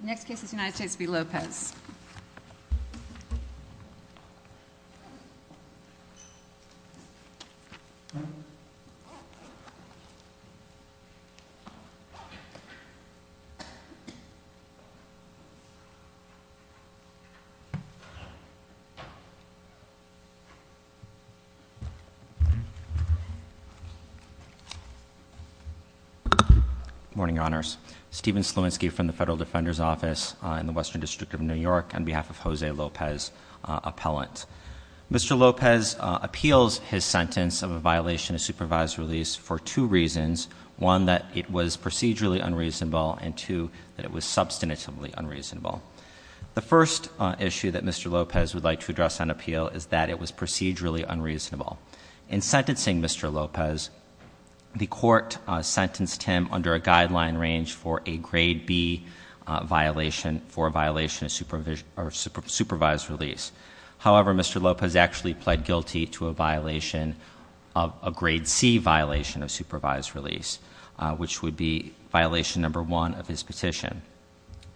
Next case is United States v. Lopez. Morning, Your Honors. Stephen Sluansky from the Federal Defender's Office in the Western District of New York on behalf of Jose Lopez, appellant. Mr. Lopez appeals his sentence of a violation of supervised release for two reasons. One, that it was procedurally unreasonable, and two, that it was substantively unreasonable. The first issue that Mr. Lopez would like to address on appeal is that it was procedurally unreasonable. In sentencing Mr. Lopez, the court sentenced him under a guideline range for a grade B violation for a violation of supervised release. However, Mr. Lopez actually pled guilty to a grade C violation of supervised release, which would be violation number one of his petition.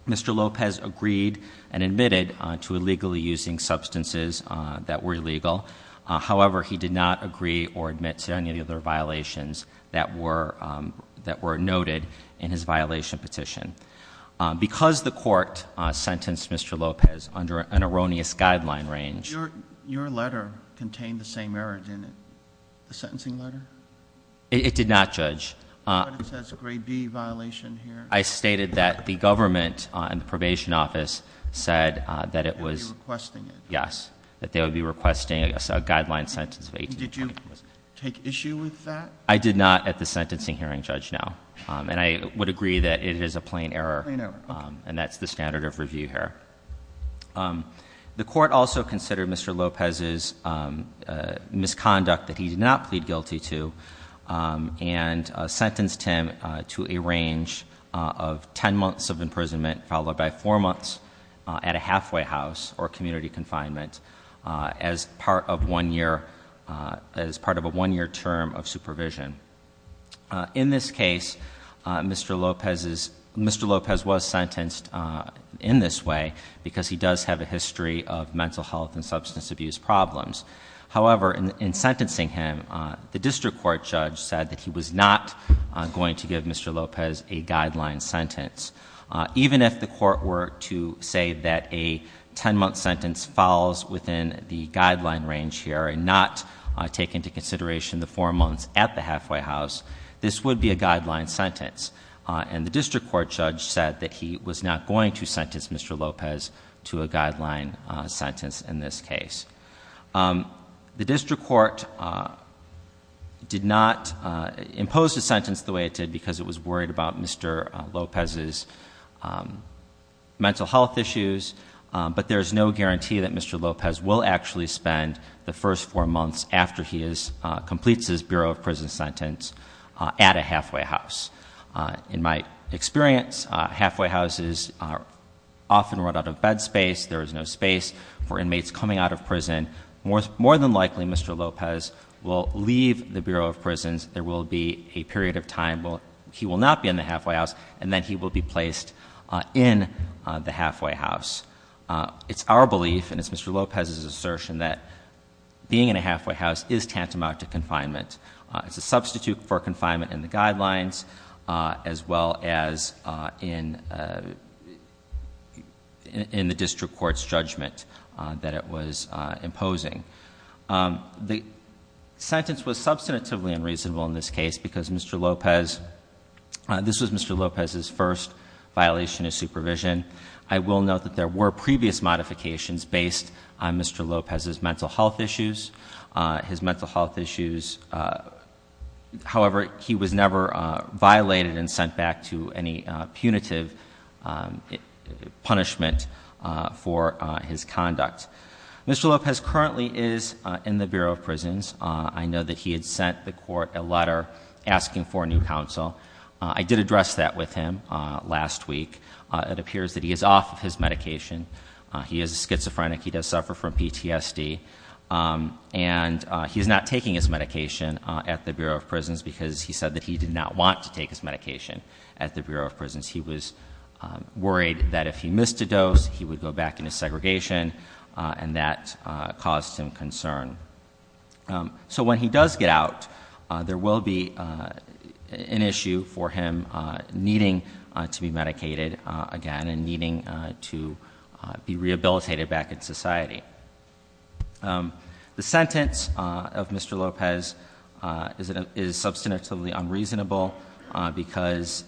Mr. Lopez agreed and admitted to illegally using substances that were illegal. However, he did not agree or admit to any of the other violations that were noted in his violation petition. Because the court sentenced Mr. Lopez under an erroneous guideline range- Your letter contained the same error, didn't it? The sentencing letter? It did not, Judge. But it says grade B violation here. I stated that the government and the probation office said that it was- That they would be requesting it. Did you take issue with that? I did not at the sentencing hearing, Judge, no. And I would agree that it is a plain error. Plain error. And that's the standard of review here. The court also considered Mr. Lopez's misconduct that he did not plead guilty to and sentenced him to a range of ten months of imprisonment followed by four months at a halfway house or as part of a one-year term of supervision. In this case, Mr. Lopez was sentenced in this way because he does have a history of mental health and substance abuse problems. However, in sentencing him, the district court judge said that he was not going to give Mr. Lopez a guideline sentence. Even if the court were to say that a ten-month sentence falls within the guideline range here and not take into consideration the four months at the halfway house, this would be a guideline sentence. And the district court judge said that he was not going to sentence Mr. Lopez to a guideline sentence in this case. The district court did not impose the sentence the way it did because it was worried about Mr. Lopez's mental health issues. But there's no guarantee that Mr. Lopez will actually spend the first four months after he completes his Bureau of Prison sentence at a halfway house. In my experience, halfway houses often run out of bed space. There is no space for inmates coming out of prison. More than likely, Mr. Lopez will leave the Bureau of Prisons. There will be a period of time where he will not be in the halfway house, and then he will be placed in the halfway house. It's our belief, and it's Mr. Lopez's assertion, that being in a halfway house is tantamount to confinement. As well as in the district court's judgment that it was imposing. The sentence was substantively unreasonable in this case, because this was Mr. Lopez's first violation of supervision. I will note that there were previous modifications based on Mr. Lopez's mental health issues. His mental health issues, however, he was never violated and sent back to any punitive punishment for his conduct. Mr. Lopez currently is in the Bureau of Prisons. I know that he had sent the court a letter asking for a new counsel. I did address that with him last week. It appears that he is off of his medication. He is a schizophrenic. He does suffer from PTSD, and he's not taking his medication at the Bureau of Prisons. Because he said that he did not want to take his medication at the Bureau of Prisons. He was worried that if he missed a dose, he would go back into segregation, and that caused him concern. So when he does get out, there will be an issue for him needing to be medicated again, and he will not be able to return to society. The sentence of Mr. Lopez is substantively unreasonable because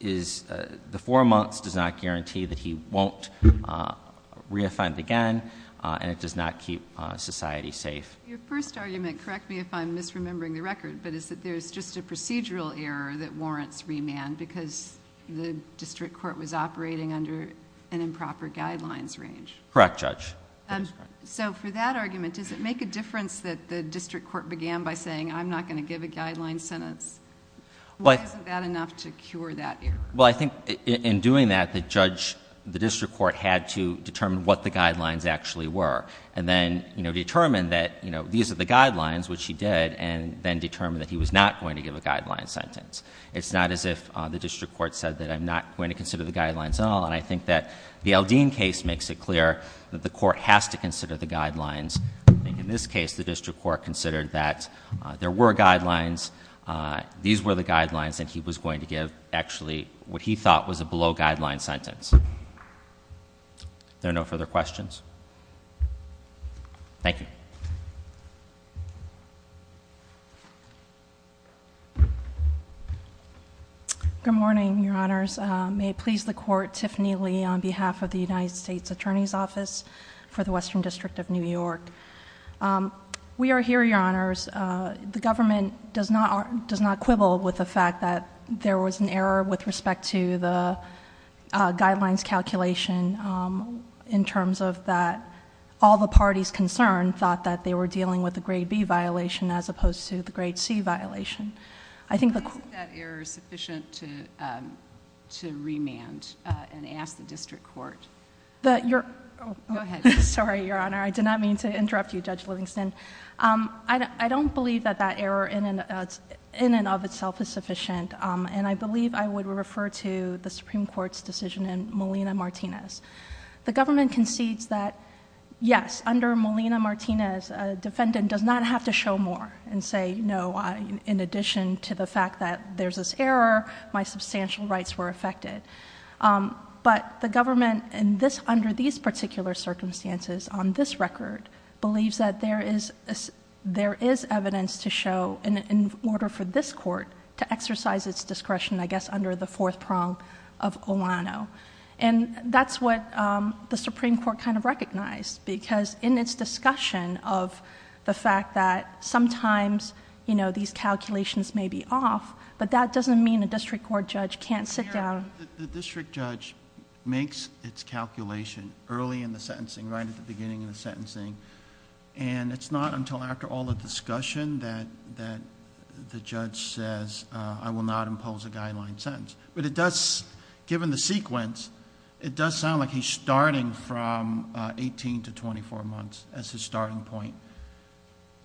the four months does not guarantee that he won't re-offend again, and it does not keep society safe. Your first argument, correct me if I'm misremembering the record, but Correct, Judge. So for that argument, does it make a difference that the district court began by saying, I'm not going to give a guideline sentence? Why isn't that enough to cure that error? Well, I think in doing that, the judge, the district court had to determine what the guidelines actually were. And then determine that these are the guidelines, which he did, and then determine that he was not going to give a guideline sentence. It's not as if the district court said that I'm not going to consider the guidelines at all. And I think that the Aldine case makes it clear that the court has to consider the guidelines. In this case, the district court considered that there were guidelines. These were the guidelines that he was going to give, actually, what he thought was a below guideline sentence. Are there no further questions? Thank you. Good morning, your honors. May it please the court, Tiffany Lee on behalf of the United States Attorney's Office for the Western District of New York. We are here, your honors. The government does not quibble with the fact that there was an error with respect to the guidelines calculation. In terms of that, all the parties concerned thought that they were dealing with the grade B violation as opposed to the grade C violation. I think the- Isn't that error sufficient to remand and ask the district court? That you're- Go ahead. Sorry, your honor. I did not mean to interrupt you, Judge Livingston. I don't believe that that error in and of itself is sufficient. And I believe I would refer to the Supreme Court's decision in Molina-Martinez. The government concedes that, yes, under Molina-Martinez, a defendant does not have to show more and say, no, in addition to the fact that there's this error, my substantial rights were affected. But the government, under these particular circumstances on this record, believes that there is evidence to show in order for this court to exercise its discretion, I guess, under the fourth prong of Olano. And that's what the Supreme Court kind of recognized, because in its discussion of the fact that sometimes these calculations may be off, but that doesn't mean a district court judge can't sit down. The district judge makes its calculation early in the sentencing, right at the beginning of the sentencing. And it's not until after all the discussion that the judge says, I will not impose a guideline sentence. But it does, given the sequence, it does sound like he's starting from 18 to 24 months as his starting point.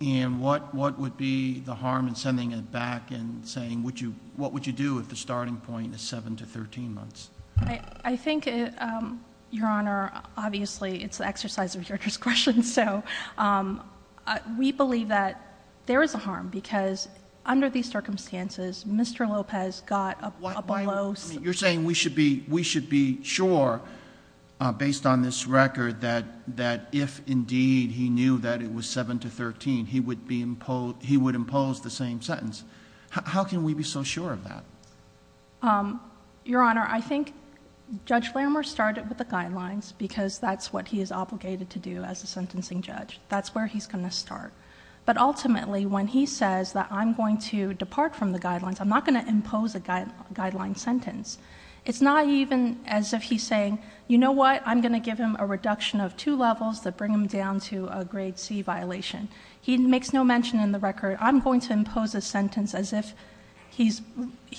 And what would be the harm in sending it back and saying what would you do if the starting point is 7 to 13 months? I think, Your Honor, obviously, it's the exercise of your discretion. So, we believe that there is a harm, because under these circumstances, Mr. Lopez got a below- I mean, you're saying we should be sure, based on this record, that if indeed he knew that it was 7 to 13, he would impose the same sentence. How can we be so sure of that? Your Honor, I think Judge Lambert started with the guidelines, because that's what he is obligated to do as a sentencing judge, that's where he's going to start. But ultimately, when he says that I'm going to depart from the guidelines, I'm not going to impose a guideline sentence. It's not even as if he's saying, you know what, I'm going to give him a reduction of two levels that bring him down to a grade C violation. He makes no mention in the record, I'm going to impose a sentence as if he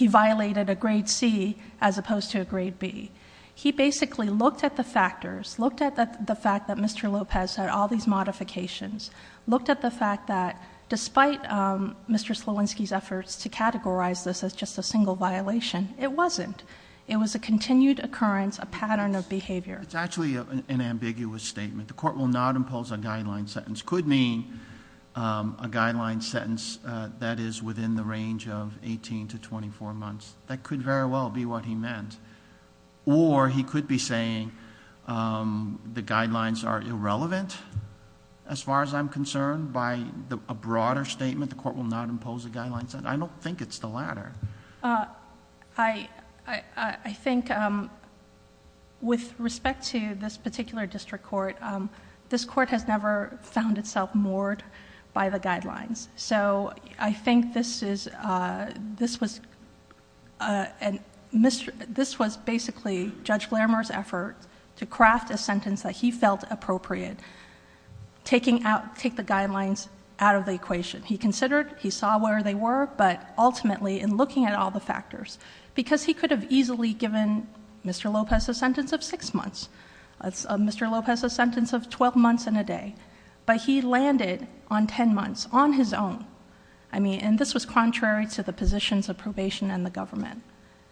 violated a grade C as opposed to a grade B. He basically looked at the factors, looked at the fact that Mr. Lopez had all these modifications, looked at the fact that despite Mr. Slowinski's efforts to categorize this as just a single violation, it wasn't. It was a continued occurrence, a pattern of behavior. It's actually an ambiguous statement. The court will not impose a guideline sentence. Could mean a guideline sentence that is within the range of 18 to 24 months. That could very well be what he meant. Or he could be saying the guidelines are irrelevant. As far as I'm concerned, by a broader statement, the court will not impose a guideline sentence. I don't think it's the latter. I think with respect to this particular district court, this court has never found itself moored by the guidelines. So I think this was basically Judge Glamour's effort to craft a sentence that he felt appropriate, take the guidelines out of the equation. He considered, he saw where they were, but ultimately in looking at all the factors. Because he could have easily given Mr. Lopez a sentence of six months, Mr. Lopez a sentence of 12 months and a day. But he landed on ten months on his own. I mean, and this was contrary to the positions of probation and the government.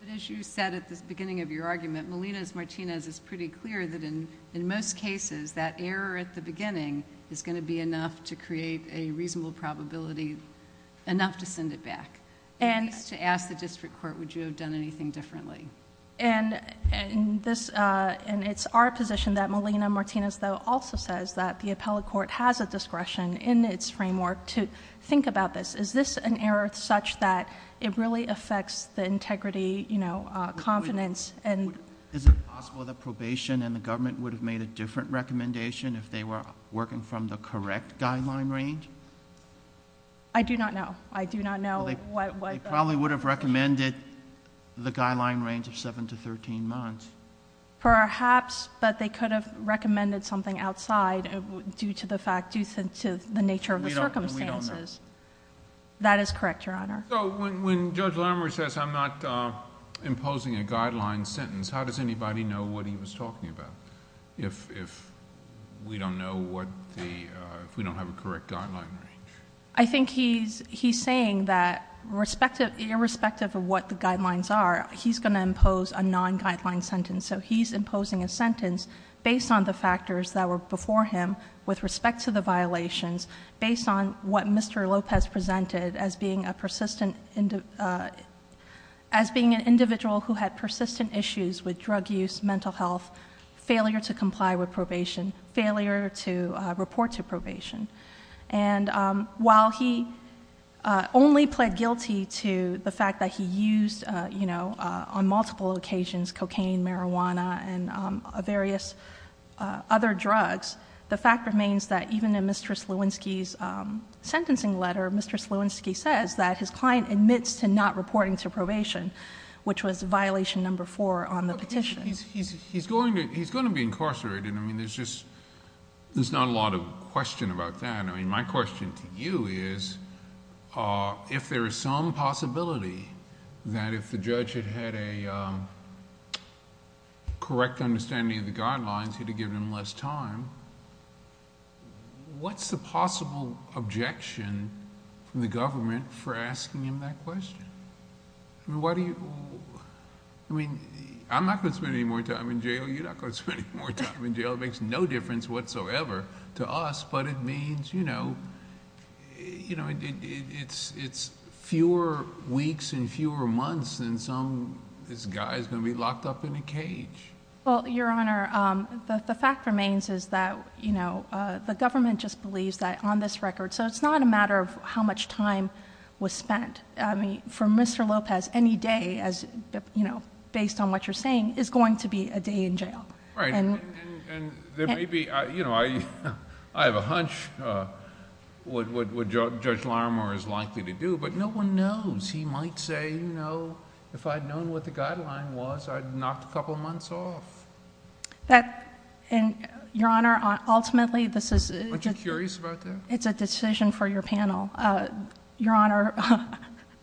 But as you said at the beginning of your argument, Melinas Martinez is pretty clear that in most cases, that error at the beginning is going to be enough to create a reasonable probability, enough to send it back. And to ask the district court, would you have done anything differently? And it's our position that Melina Martinez, though, also says that the appellate court has a discretion in its framework to think about this. Is this an error such that it really affects the integrity, confidence and- Recommendation if they were working from the correct guideline range? I do not know. I do not know what- They probably would have recommended the guideline range of seven to 13 months. Perhaps, but they could have recommended something outside due to the fact, due to the nature of the circumstances. We don't know. That is correct, your honor. So, when Judge Glamour says I'm not imposing a guideline sentence, how does anybody know what he was talking about? If we don't know what the, if we don't have a correct guideline. I think he's saying that irrespective of what the guidelines are, he's going to impose a non-guideline sentence. So he's imposing a sentence based on the factors that were before him with respect to the violations, based on what Mr. Lopez presented as being a persistent, as being an individual who had persistent issues with drug use, mental health, failure to comply with probation, failure to report to probation. And while he only pled guilty to the fact that he used, on multiple occasions, cocaine, marijuana, and various other drugs. The fact remains that even in Mistress Lewinsky's sentencing letter, Mistress Lewinsky says that his client admits to not reporting to probation, which was violation number four on the petition. He's going to be incarcerated. I mean, there's just, there's not a lot of question about that. I mean, my question to you is, if there is some possibility that if the judge had had a correct understanding of the guidelines, he'd have given him less time, what's the possible objection from the government for asking him that question? I mean, why do you, I mean, I'm not going to spend any more time in jail, you're not going to spend any more time in jail. It makes no difference whatsoever to us, but it means, you know, you know, it's fewer weeks and fewer months than some, this guy's going to be locked up in a cage. Well, Your Honor, the fact remains is that, you know, the government just believes that on this record, so it's not a matter of how much time was spent. I mean, for Mr. Lopez, any day, as you know, based on what you're saying, is going to be a day in jail. Right, and there may be, you know, I have a hunch what Judge Larimer is likely to do, but no one knows. He might say, you know, if I'd known what the guideline was, I'd knock a couple months off. That, Your Honor, ultimately this is... Aren't you curious about that? It's a decision for your panel. Your Honor,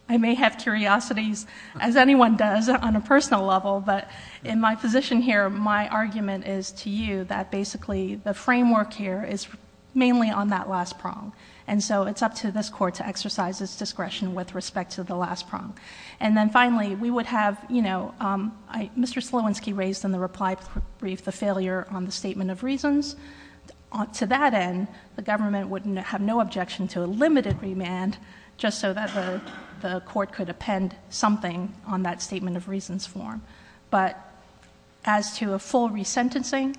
I may have curiosities, as anyone does on a personal level, but in my position here, my argument is to you that basically the framework here is mainly on that last prong, and so it's up to this court to exercise its discretion with respect to the last prong. And then finally, we would have, you know, Mr. Slowinski raised in the reply brief the failure on the statement of reasons. To that end, the government would have no objection to a limited remand, just so that the court could append something on that statement of reasons form. But as to a full resentencing,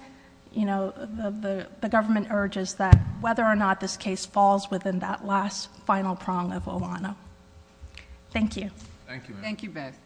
you know, the government urges that whether or not this case falls within that last final prong of Ohana. Thank you. Thank you, ma'am. Thank you both.